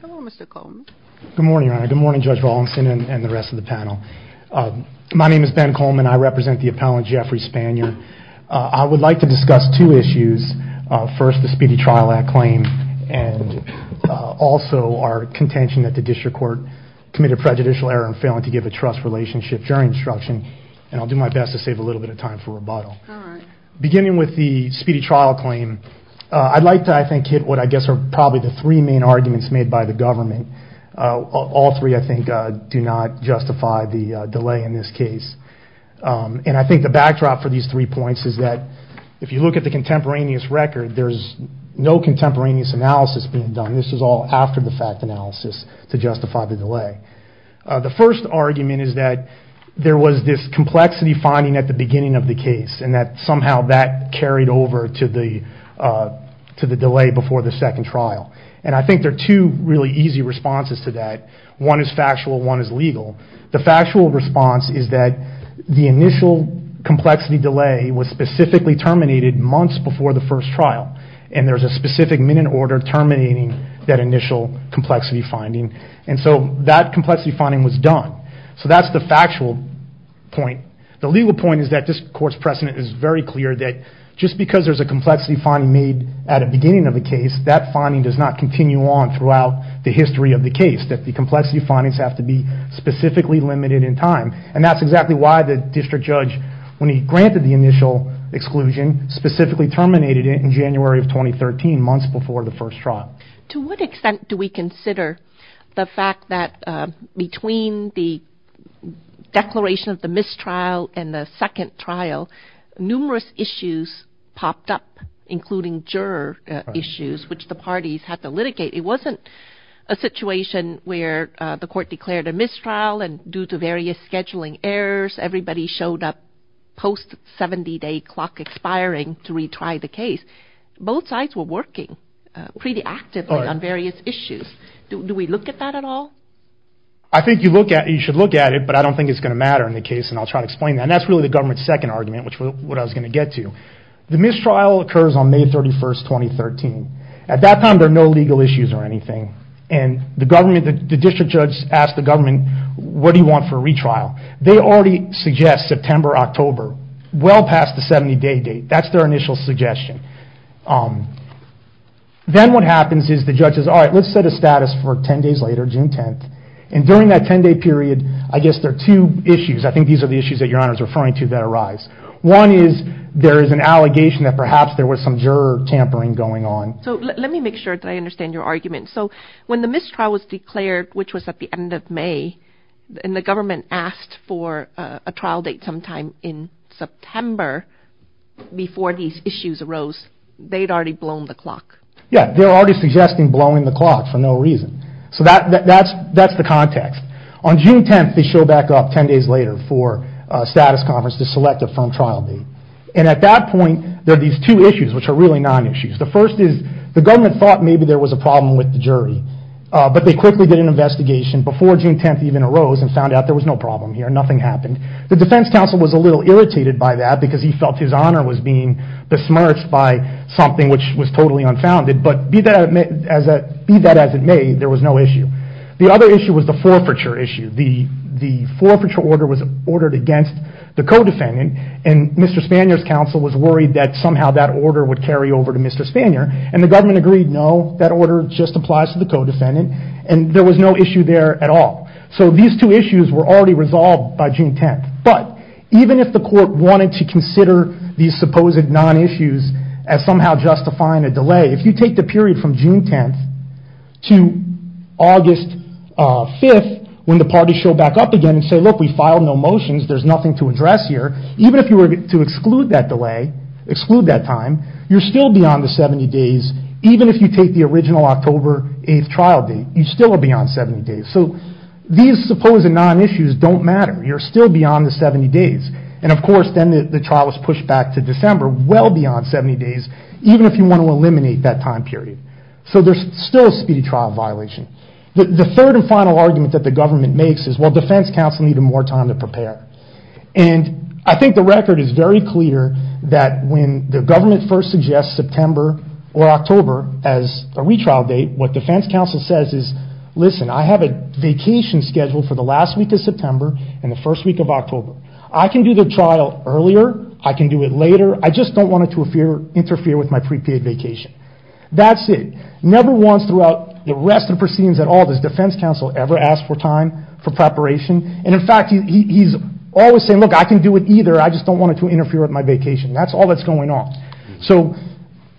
Hello, Mr. Coleman. Good morning, Your Honor. Good morning, Judge Rawlinson and the rest of the panel. My name is Ben Coleman. I represent the appellant Jeffrey Spanier. I would like to discuss two issues. First, the Speedy Trial Act claim and also our contention that the district court committed prejudicial error in failing to give a trust relationship during instruction and I'll do my best to save a little bit of time for rebuttal. Beginning with the Speedy Trial claim, I'd like to hit what I guess are probably the three main arguments made by the government. All three, I think, do not justify the delay in this case and I think the backdrop for these three points is that if you look at the contemporaneous record, there's no contemporaneous analysis being done. This is all after the fact analysis to justify the delay. The first argument is that there was this complexity finding at the beginning of the case and that somehow that carried over to the delay before the second trial and I think there are two really easy responses to that. One is factual, one is legal. The factual response is that the initial complexity delay was specifically terminated months before the first trial and there's a specific minute order terminating that initial complexity finding and so that complexity finding was done. So that's the reason that this court's precedent is very clear that just because there's a complexity finding made at the beginning of the case, that finding does not continue on throughout the history of the case. That the complexity findings have to be specifically limited in time and that's exactly why the district judge, when he granted the initial exclusion, specifically terminated it in January of 2013, months before the first trial. To what extent do we consider the fact that between the declaration of the mistrial and the second trial, numerous issues popped up, including juror issues, which the parties had to litigate. It wasn't a situation where the court declared a mistrial and due to various scheduling errors, everybody showed up post 70 day clock expiring to retry the case. Both sides were working pretty actively on various issues. Do we look at that at all? I think you should look at it, but I don't think it's going to matter in the case and I'll try to explain that. That's really the government's second argument, which is what I was going to get to. The mistrial occurs on May 31st, 2013. At that time, there are no legal issues or anything. The district judge asked the government, what do you want for a retrial? They already suggest September, October, well past the 70 day date. That's their initial suggestion. Then what happens is the judge says, alright, let's set a status for 10 days later, June 10th, and during that 10 day period, I guess there are two issues. I think these are the issues that your honor is referring to that arise. One is there is an allegation that perhaps there was some juror tampering going on. Let me make sure that I understand your argument. When the mistrial was declared, which was at the end of May, and the government asked for a trial date sometime in September before these issues arose, they'd already blown the clock. Yeah, they were already suggesting blowing the clock for no reason. That's the context. On June 10th, they show back up 10 days later for a status conference to select a firm trial date. At that point, there are these two issues, which are really non-issues. The first is the government thought maybe there was a problem with the jury, but they quickly did an investigation before June 10th even arose and found out there was no problem here. Nothing happened. The defense counsel was a little irritated by that because he felt his honor was being besmirched by something which was totally unfounded, but be that as it may, there was no issue. The other issue was the forfeiture issue. The forfeiture order was ordered against the co-defendant, and Mr. Spanier's counsel was worried that somehow that order would carry over to Mr. Spanier. The government agreed, no, that order just applies to the co-defendant, and there was no issue there at all. These two issues were already resolved by June 10th, but even if the court wanted to consider these supposed non-issues as somehow justifying a delay, if you take the period from June 10th to August 5th, when the parties show back up again and say, look, we filed no motions, there's nothing to address here, even if you were to exclude that delay, exclude that time, you're still beyond the 70 days, even if you take the original October 8th trial date, you're still beyond 70 days. These supposed non-issues don't matter. You're still beyond the 70 days. Of course, then the trial was pushed back to December, well beyond 70 days, even if you want to eliminate that time period. So there's still a speedy trial violation. The third and final argument that the government makes is, well, defense counsel needed more time to prepare. And I think the record is very clear that when the government first suggests September or October as a retrial date, what defense counsel says is, listen, I have a vacation scheduled for the last week of September and the first week of October. I can do the trial earlier, I can do it later, I just don't want it to interfere with my pre-paid vacation. That's it. Never once throughout the rest of proceedings at all does defense counsel ever ask for time for preparation. And in fact, he's always saying, look, I can do it either, I just don't want it to interfere with my vacation. That's all that's going on. So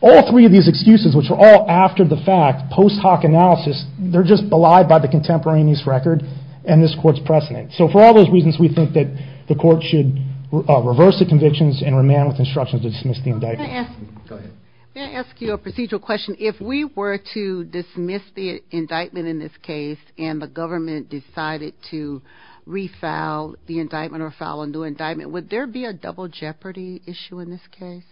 all three of these excuses, which are all after the fact, post hoc analysis, they're just belied by the contemporaneous record and this court's precedent. So for all those reasons we think that the court should reverse the convictions and remand with instructions to dismiss the indictment. Can I ask you a procedural question? If we were to dismiss the indictment in this case and the government decided to refile the indictment or file a new indictment, would there be a double jeopardy issue in this case?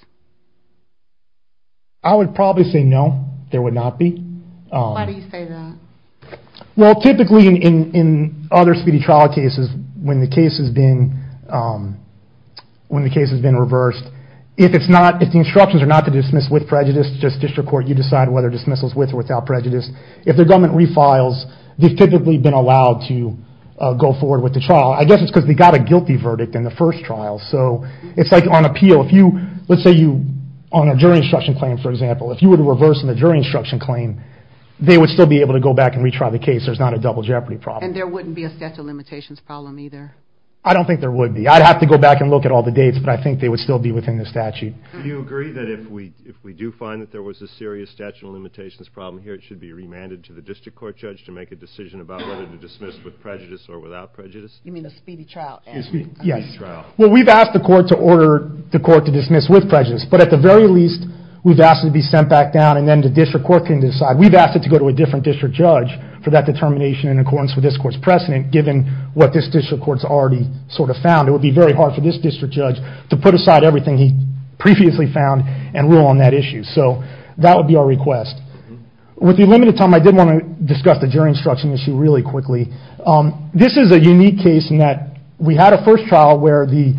I would probably say no, there would not be. Why do you say that? Well typically in other speedy trial cases, when the case has been reversed, if it's not to dismiss with prejudice, it's just district court, you decide whether dismissal is with or without prejudice. If the government refiles, they've typically been allowed to go forward with the trial. I guess it's because they got a guilty verdict in the first trial. So it's like on appeal, let's say on a jury instruction claim, for example, if you were to reverse on a jury instruction claim, they would still be able to go back and retry the case. There's not a double jeopardy problem. And there wouldn't be a statute of limitations problem either? I don't think there would be. I'd have to go back and look at all the dates, but I think they would still be within the statute. Do you agree that if we do find that there was a serious statute of limitations problem here, it should be remanded to the district court judge to make a decision about whether to dismiss with prejudice or without prejudice? You mean a speedy trial? Yes. Well we've asked the court to order the court to dismiss with prejudice, but at the very least, we've asked it to be sent back down and then the district court can decide. We've asked it to go to a different district judge for that determination in accordance with this court's precedent, given what this district court's already sort of found. It put aside everything it previously found and ruled on that issue. So that would be our request. With the limited time, I did want to discuss the jury instruction issue really quickly. This is a unique case in that we had a first trial where the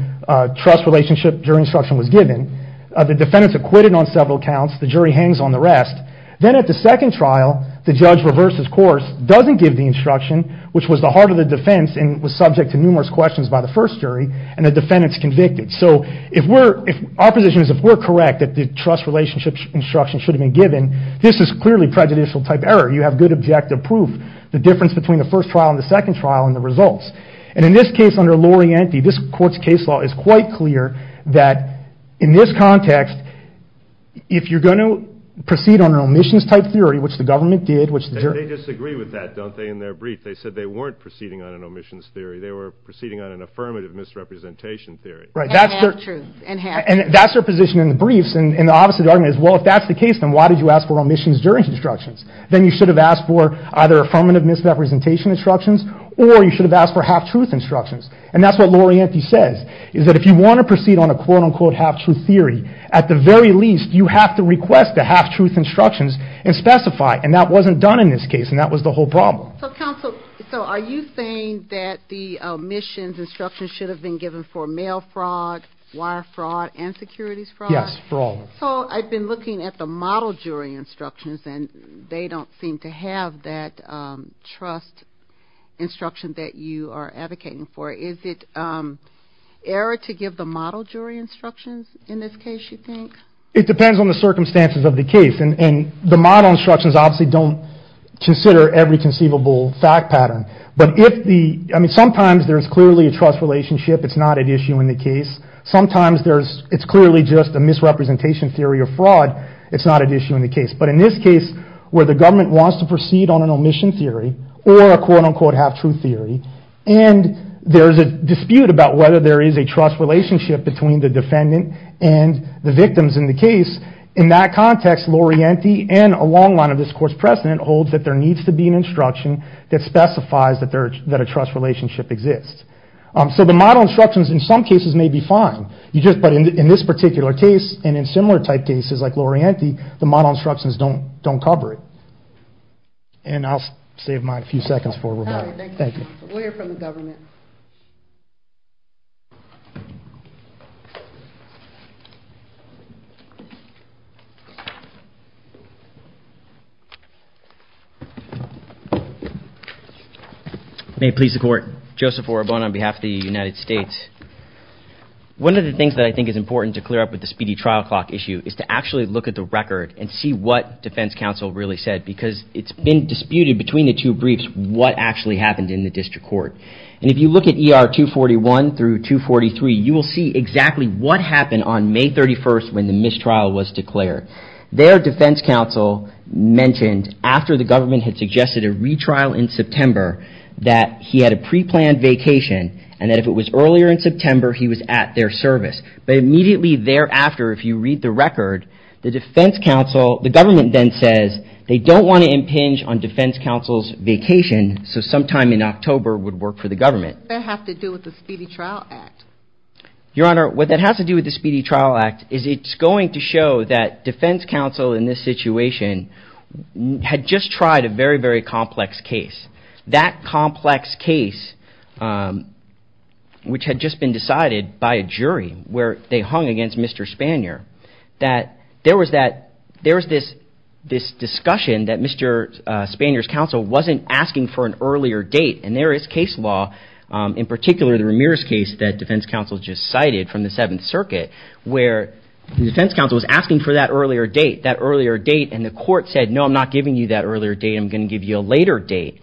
trust relationship jury instruction was given. The defendants acquitted on several counts, the jury hangs on the rest. Then at the second trial, the judge reversed his course, doesn't give the instruction, which was the heart of the defense and was subject to numerous questions by the first jury, and the defendants convicted. So our position is if we're correct that the trust relationship instruction should have been given, this is clearly prejudicial type error. You have good objective proof, the difference between the first trial and the second trial and the results. In this case under Lorienti, this court's case law is quite clear that in this context, if you're going to proceed on an omissions type theory, which the government did, which the jury- They disagree with that, don't they, in their brief? They said they weren't proceeding on an omissions type theory. Right, that's their- And half-truth. And that's their position in the briefs, and obviously the argument is, well, if that's the case, then why did you ask for omissions jury instructions? Then you should have asked for either affirmative misrepresentation instructions, or you should have asked for half-truth instructions. And that's what Lorienti says, is that if you want to proceed on a quote-unquote half-truth theory, at the very least, you have to request the half-truth instructions and specify, and that wasn't done in this case, and that was the whole problem. So, counsel, so are you saying that the omissions instructions should have been given for mail fraud, wire fraud, and securities fraud? Yes, for all. So, I've been looking at the model jury instructions, and they don't seem to have that trust instruction that you are advocating for. Is it error to give the model jury instructions in this case, you think? It depends on the circumstances of the case, and the model instructions obviously don't consider every conceivable fact pattern, but if the, I mean, sometimes there's clearly a trust relationship, it's not an issue in the case. Sometimes there's, it's clearly just a misrepresentation theory of fraud, it's not an issue in the case. But in this case, where the government wants to proceed on an omission theory, or a quote-unquote half-truth theory, and there's a dispute about whether there is a trust relationship between the defendant and the victims in the case, in that context, Lorienti and a long line of this court's precedent holds that there needs to be an instruction that specifies that there, that a trust relationship exists. So, the model instructions in some cases may be fine, you just, but in this particular case, and in similar type cases like Lorienti, the model instructions don't, don't cover it. And I'll save my few seconds for Rebecca. All right, thank you. We'll hear from the government. May it please the court. Joseph Orobon on behalf of the United States. One of the things that I think is important to clear up with the speedy trial clock issue is to actually look at the record and see what defense counsel really said, because it's been disputed between the two briefs what actually happened in the district court. And if you look at ER 241 through 243, you will see exactly what happened on May 31st when the mistrial was declared. Their defense counsel mentioned after the government had suggested a retrial in September that he had a pre-planned vacation, and that if it was earlier in September, he was at their service. But immediately thereafter, if you read the record, the defense counsel, the government then says they don't want to impinge on defense counsel's vacation, so sometime in October would work for the government. What does that have to do with the Speedy Trial Act? Your Honor, what that has to do with the Speedy Trial Act is it's going to show that defense counsel in this situation had just tried a very, very complex case. That complex case, which had just been decided by a jury where they hung against Mr. Spanier, that there was this discussion that Mr. Spanier's counsel wasn't asking for an earlier date, and there is case law, in particular the Ramirez case that defense counsel just cited from the Seventh Circuit, where the defense counsel was asking for that earlier date, that earlier date, and the court said, no, I'm not giving you that earlier date, I'm going to give you a later date.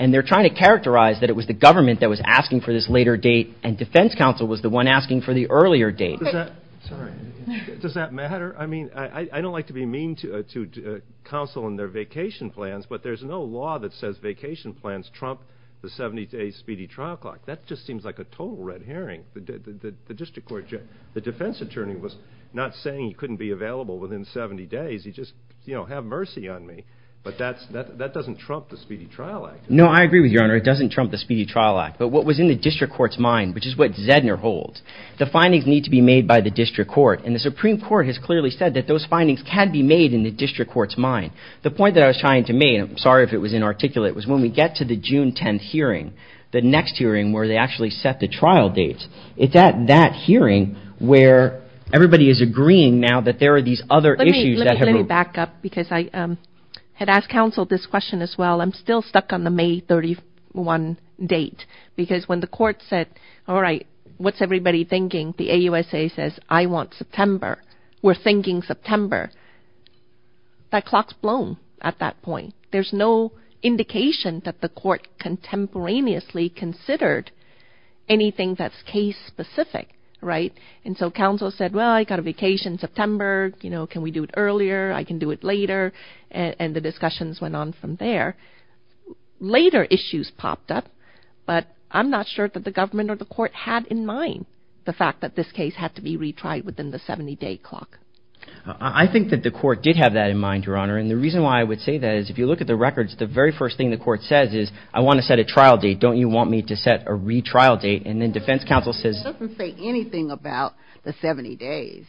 And they're trying to characterize that it was the government that was asking for this later date, and defense counsel was the one asking for the earlier date. Does that matter? I mean, I don't like to be mean to counsel and their vacation plans, but there's no law that says vacation plans trump the 70-day Speedy Trial Clock. That just seems like a total red herring. The district court, the defense attorney was not saying he couldn't be available within 70 days, he just, you know, have mercy on me, but that doesn't trump the Speedy Trial Act. No, I agree with you, Your Honor, it doesn't trump the Speedy Trial Act, but what was in the district court's mind, which is what Zedner holds, the findings need to be made by the district court, and the Supreme Court has clearly said that those findings can be made in the district court's mind. The point that I was trying to make, and I'm sorry if it was inarticulate, was when we get to the June 10th hearing, the next hearing where they actually set the trial dates, it's at that hearing where everybody is agreeing now that there are these other issues that have... Let me back up, because I had asked counsel this question as well. I'm still stuck on the May 31 date, because when the court said, all right, what's everybody thinking? The AUSA says, I want September. We're thinking September. That clock's blown at that point. There's no indication that the court contemporaneously considered anything that's case-specific, and so counsel said, well, I got a vacation in September. Can we do it earlier? I can do it later, and the discussions went on from there. Later issues popped up, but I'm not sure that the government or the court had in mind the fact that this case had to be retried within the 70-day clock. I think that the court did have that in mind, Your Honor, and the reason why I would say that is, if you look at the records, the very first thing the court says is, I want to set a trial date. Don't you want me to set a retrial date? Then defense counsel says... It doesn't say anything about the 70 days.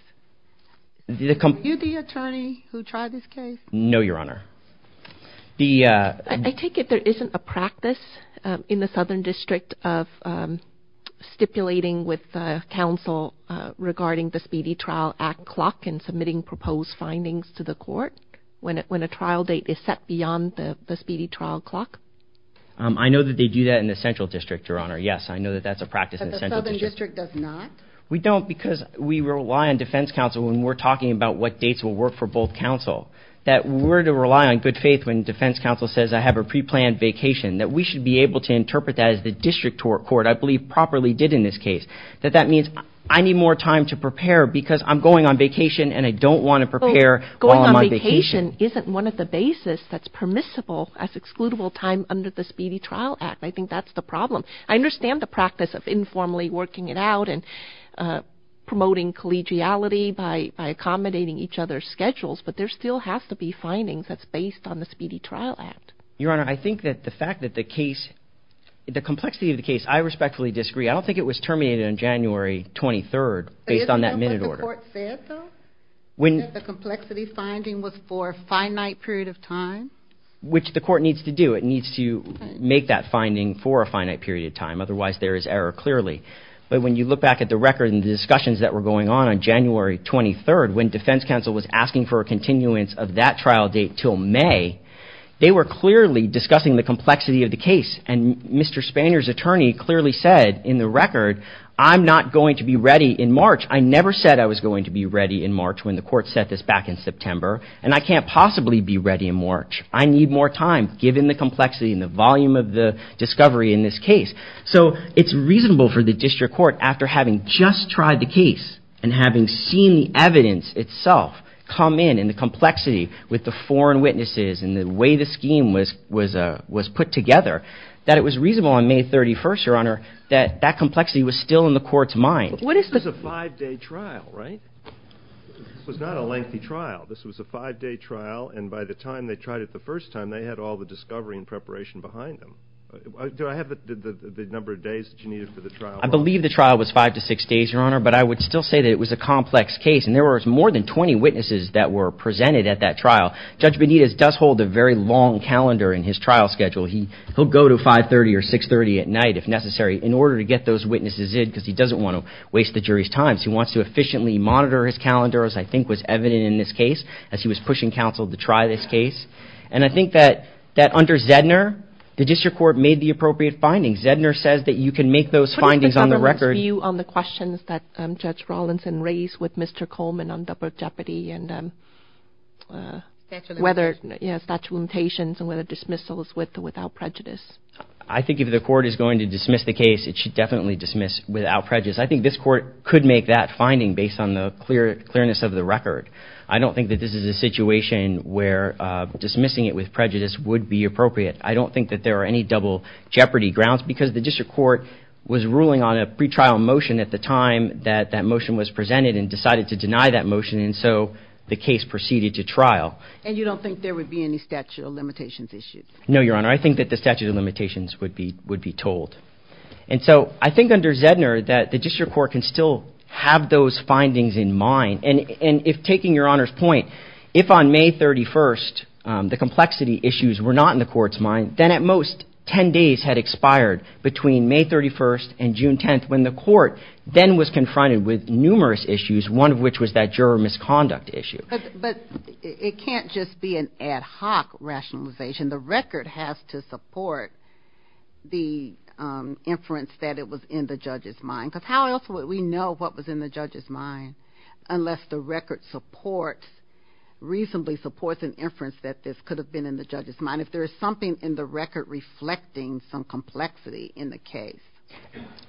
Are you the attorney who tried this case? No, Your Honor. I take it there isn't a practice in the Southern District of stipulating with counsel regarding the Speedy Trial Act clock and submitting proposed findings to the court when a trial date is set beyond the Speedy Trial Clock? I know that they do that in the Central District, Your Honor. Yes, I know that that's a practice in the Central District. But the Southern District does not? We don't because we rely on defense counsel when we're talking about what dates will work for both counsel, that we're to rely on good faith when defense counsel says I have a pre-planned vacation, that we should be able to interpret that as the district court, I believe properly did in this case, that that means I need more time to prepare because I'm going on vacation and I don't want to prepare while I'm on vacation. Vacation isn't one of the basis that's permissible as excludable time under the Speedy Trial Act. I think that's the problem. I understand the practice of informally working it out and promoting collegiality by accommodating each other's schedules, but there still has to be findings that's based on the Speedy Trial Act. Your Honor, I think that the fact that the case, the complexity of the case, I respectfully disagree. I don't think it was terminated on January 23rd based on that minute order. But the court said, though, that the complexity finding was for a finite period of time. Which the court needs to do. It needs to make that finding for a finite period of time, otherwise there is error clearly. But when you look back at the record and the discussions that were going on on January 23rd, when defense counsel was asking for a continuance of that trial date until May, they were clearly discussing the complexity of the case. And Mr. Spanier's attorney clearly said in the record, I'm not going to be ready in March. I never said I was going to be ready in March when the court set this back in September. And I can't possibly be ready in March. I need more time, given the complexity and the volume of the discovery in this case. So it's reasonable for the district court, after having just tried the case and having seen the evidence itself come in and the complexity with the foreign witnesses and the way the scheme was put together, that it was reasonable on May 31st, Your Honor, that that complexity was still in the court's mind. This was a five-day trial, right? This was not a lengthy trial. This was a five-day trial. And by the time they tried it the first time, they had all the discovery and preparation behind them. Do I have the number of days that you needed for the trial? I believe the trial was five to six days, Your Honor. But I would still say that it was a complex case. And there were more than 20 witnesses that were presented at that trial. Judge Benitez does hold a very long calendar in his trial schedule. He'll go to 530 or 540, waste the jury's time. So he wants to efficiently monitor his calendar, as I think was evident in this case, as he was pushing counsel to try this case. And I think that under Zedner, the district court made the appropriate findings. Zedner says that you can make those findings on the record. What is the government's view on the questions that Judge Rawlinson raised with Mr. Coleman on double jeopardy and whether statutory limitations and whether dismissals with or without prejudice? I think if the court is going to dismiss the case, it should definitely dismiss without prejudice. I think this court could make that finding based on the clearness of the record. I don't think that this is a situation where dismissing it with prejudice would be appropriate. I don't think that there are any double jeopardy grounds, because the district court was ruling on a pretrial motion at the time that that motion was presented and decided to deny that motion. And so the case proceeded to trial. And you don't think there would be any statute of limitations issued? No, Your Honor. I think that the statute of limitations would be told. And so I think under Zedner that the district court can still have those findings in mind. And if, taking Your Honor's point, if on May 31st the complexity issues were not in the court's mind, then at most 10 days had expired between May 31st and June 10th when the court then was confronted with numerous issues, one of which was that juror misconduct issue. But it can't just be an ad hoc rationalization. The record has to support the fact that the inference that it was in the judge's mind. Because how else would we know what was in the judge's mind unless the record reasonably supports an inference that this could have been in the judge's mind, if there is something in the record reflecting some complexity in the case?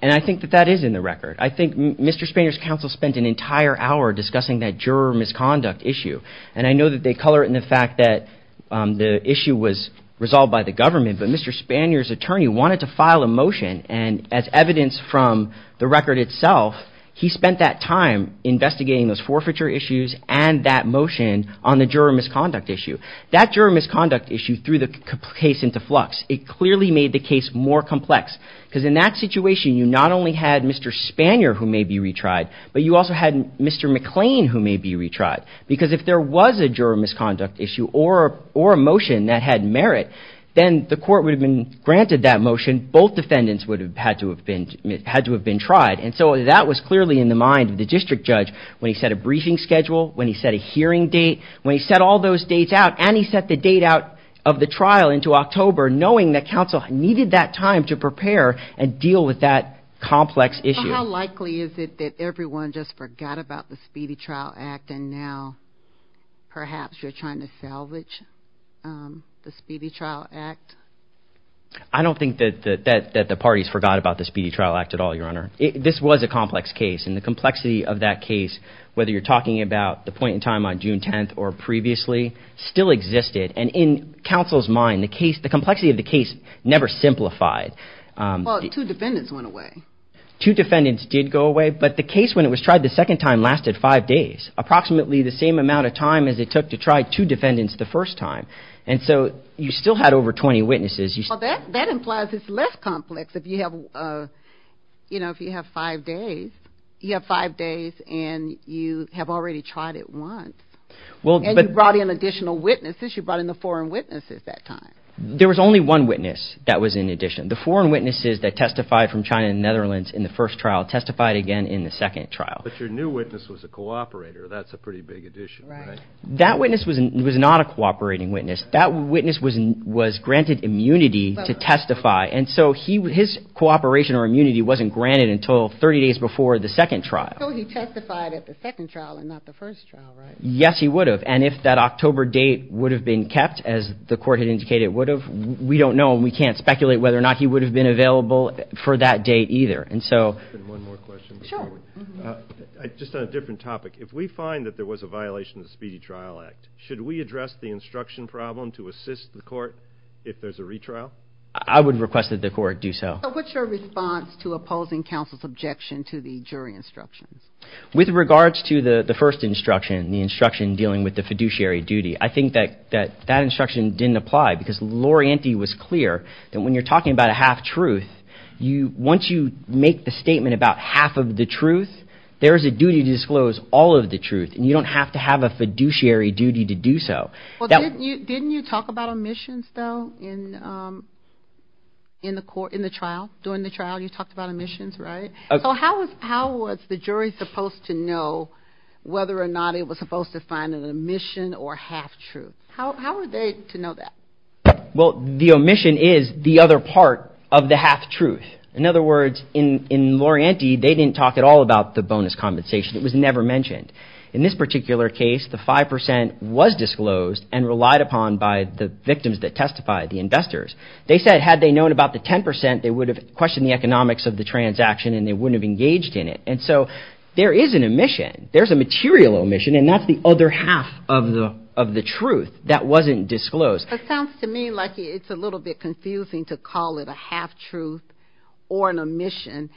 And I think that that is in the record. I think Mr. Spanier's counsel spent an entire hour discussing that juror misconduct issue. And I know that they color it in the fact that the issue was resolved by the government, but Mr. Spanier's attorney wanted to file a motion. And as evidence from the record itself, he spent that time investigating those forfeiture issues and that motion on the juror misconduct issue. That juror misconduct issue threw the case into flux. It clearly made the case more complex. Because in that situation, you not only had Mr. Spanier who may be retried, but you also had Mr. McLean who may be retried. Because if there was a juror misconduct issue or a motion that had merit, then the court would have been granted that motion. Both defendants would have had to have been tried. And so that was clearly in the mind of the district judge when he set a briefing schedule, when he set a hearing date, when he set all those dates out, and he set the date out of the trial into October knowing that counsel needed that time to prepare and deal with that complex issue. So how likely is it that everyone just forgot about the Speedy Trial Act and now perhaps you're trying to salvage the Speedy Trial Act? I don't think that the parties forgot about the Speedy Trial Act at all, Your Honor. This was a complex case. And the complexity of that case, whether you're talking about the point in time on June 10th or previously, still existed. And in counsel's mind, the complexity of the case never simplified. Well, two defendants went away. Two defendants did go away. But the case when it was tried the second time lasted five days, approximately the same amount of time as it took to try two defendants the first time. And so you still had over 20 witnesses. That implies it's less complex if you have, you know, if you have five days. You have five days and you have already tried it once. And you brought in additional witnesses. You brought in the foreign witnesses that time. There was only one witness that was in addition. The foreign witnesses that testified from China and the Netherlands in the first trial testified again in the second trial. But your new witness was a cooperator. That's a pretty big addition, right? That witness was not a cooperating witness. That witness was granted immunity to testify. And so his cooperation or immunity wasn't granted until 30 days before the second trial. So he testified at the second trial and not the first trial, right? Yes, he would have. And if that October date would have been kept, as the court had indicated it would have, we don't know. And we can't speculate whether or not he would have been available for that date either. And so... And one more question. Sure. Just on a different topic. If we find that there was a violation of the Speedy Trial Act, should we address the instruction problem to assist the court if there's a retrial? I would request that the court do so. So what's your response to opposing counsel's objection to the jury instructions? With regards to the first instruction, the instruction dealing with the fiduciary duty, I think that that instruction didn't apply because Loriente was clear that when you're talking about a half-truth, once you make the statement about half of the truth, there is a duty to disclose all of the truth. And you don't have to have a fiduciary duty to do so. Well, didn't you talk about omissions, though, in the trial? During the trial, you talked about omissions, right? So how was the jury supposed to know whether or not it was supposed to find an omission or half-truth? How were they to know that? Well, the omission is the other part of the half-truth. In other words, in Loriente, they didn't talk at all about the bonus compensation. It was never mentioned. In this particular case, the 5% was disclosed and relied upon by the victims that testified, the investors. They said had they known about the 10%, they would have questioned the economics of the transaction and they wouldn't have engaged in it. And so there is an omission. There's a material omission, and that's the other half of the truth that wasn't disclosed. It sounds to me like it's a little bit confusing to call it a half-truth or an omission.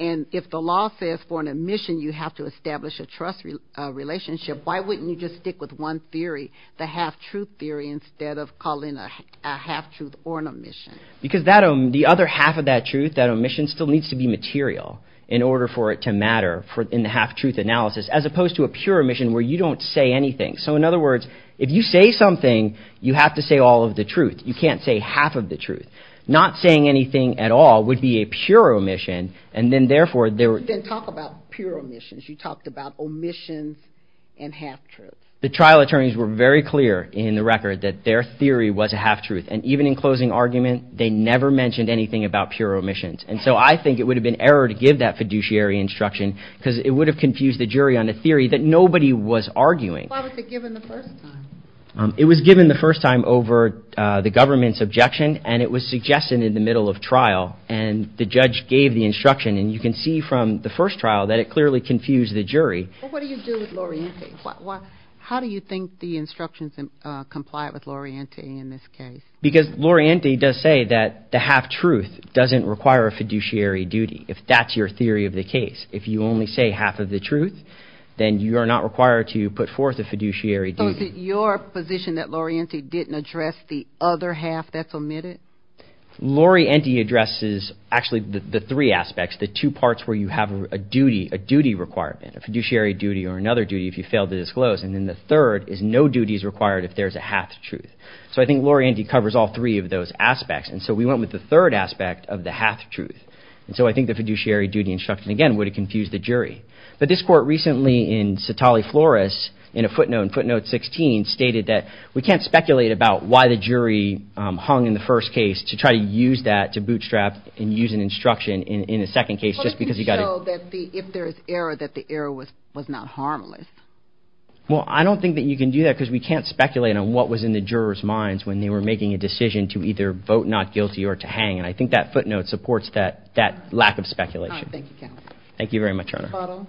And if the law says for an omission, you have to establish a trust relationship, why wouldn't you just stick with one theory, the half-truth theory, instead of calling it a half-truth or an omission? Because the other half of that truth, that omission, still needs to be material in order for it to matter in the half-truth analysis, as opposed to a pure omission where you don't say anything. So in other words, if you say something, you have to say all of the truth. You can't say half of the truth. Not saying anything at all would be a pure omission. And then therefore, there were... Then talk about pure omissions. You talked about omissions and half-truths. The trial attorneys were very clear in the record that their theory was a half-truth. And even in closing argument, they never mentioned anything about pure omissions. And so I think it would have been error to give that fiduciary instruction because it would have the jury on a theory that nobody was arguing. Why was it given the first time? It was given the first time over the government's objection, and it was suggested in the middle of trial. And the judge gave the instruction. And you can see from the first trial that it clearly confused the jury. But what do you do with Lorienti? How do you think the instructions comply with Lorienti in this case? Because Lorienti does say that the half-truth doesn't require a fiduciary duty, if that's your theory of the case. If you only say half of the truth, then you are not required to put forth a fiduciary duty. So is it your position that Lorienti didn't address the other half that's omitted? Lorienti addresses actually the three aspects, the two parts where you have a duty requirement, a fiduciary duty or another duty if you fail to disclose. And then the third is no duties required if there's a half-truth. So I think Lorienti covers all three of those aspects. And so we went with the third aspect of the half-truth. And so I think the fiduciary duty instruction, again, would have confused the jury. But this court recently in Satale-Flores, in a footnote in footnote 16, stated that we can't speculate about why the jury hung in the first case to try to use that to bootstrap and use an instruction in a second case just because you got to- Well, you can show that if there's error, that the error was not harmless. Well, I don't think that you can do that because we can't speculate on what was in the jurors' minds when they were making a decision to either vote not guilty or to hang. And I think that footnote supports that lack of speculation. All right. Thank you, Counsel. Thank you very much, Your Honor.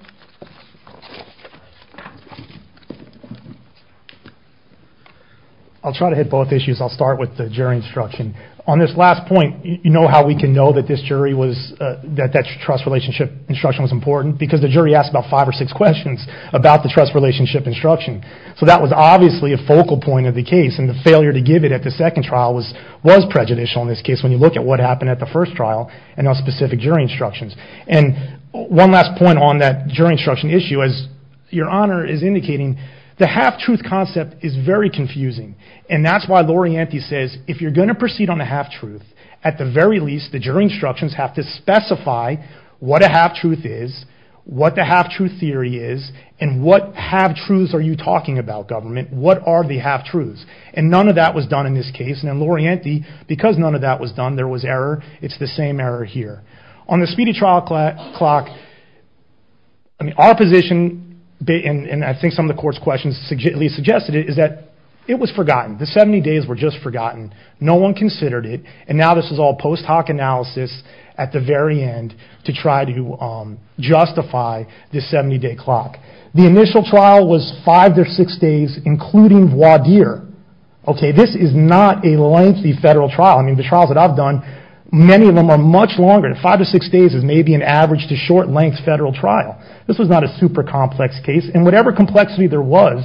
I'll try to hit both issues. I'll start with the jury instruction. On this last point, you know how we can know that that trust relationship instruction was important because the jury asked about five or six questions about the trust relationship instruction. So that was obviously a focal point of the case. And the failure to give it at the first trial was prejudicial in this case when you look at what happened at the first trial and on specific jury instructions. And one last point on that jury instruction issue, as Your Honor is indicating, the half-truth concept is very confusing. And that's why Lorienti says, if you're going to proceed on a half-truth, at the very least, the jury instructions have to specify what a half-truth is, what the half-truth theory is, and what half-truths are you talking about, government? What are the half-truths? And none of that was done in this case. Because none of that was done, there was error. It's the same error here. On the speedy trial clock, our position, and I think some of the court's questions at least suggested it, is that it was forgotten. The 70 days were just forgotten. No one considered it. And now this is all post hoc analysis at the very end to try to justify this 70-day clock. The initial trial was five to six days, including voir dire. Okay, this is not a lengthy federal trial. I mean, the trials that I've done, many of them are much longer. Five to six days is maybe an average to short length federal trial. This was not a super complex case. And whatever complexity there was,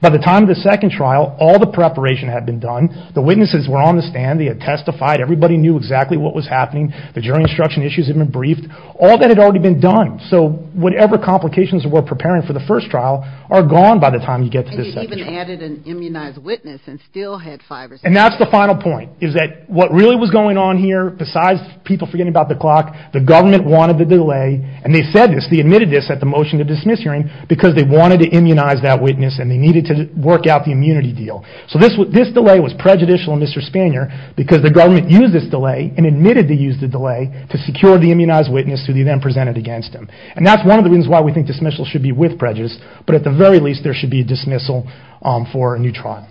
by the time of the second trial, all the preparation had been done. The witnesses were on the stand. They had testified. Everybody knew exactly what was happening. The jury instruction issues had been briefed. All that had already been done. So whatever complications were preparing for the first trial are gone by the time you get to the second trial. And you even added an immunized witness and still had five or six days. And that's the final point, is that what really was going on here, besides people forgetting about the clock, the government wanted the delay, and they said this, they admitted this at the motion to dismiss hearing, because they wanted to immunize that witness and they needed to work out the immunity deal. So this delay was prejudicial in Mr. Spanier, because the government used this delay and admitted to use the delay to secure the immunized witness who they then presented against him. And that's one of the reasons why we think dismissals should be with prejudice, but at the very least there should be a dismissal for a new trial.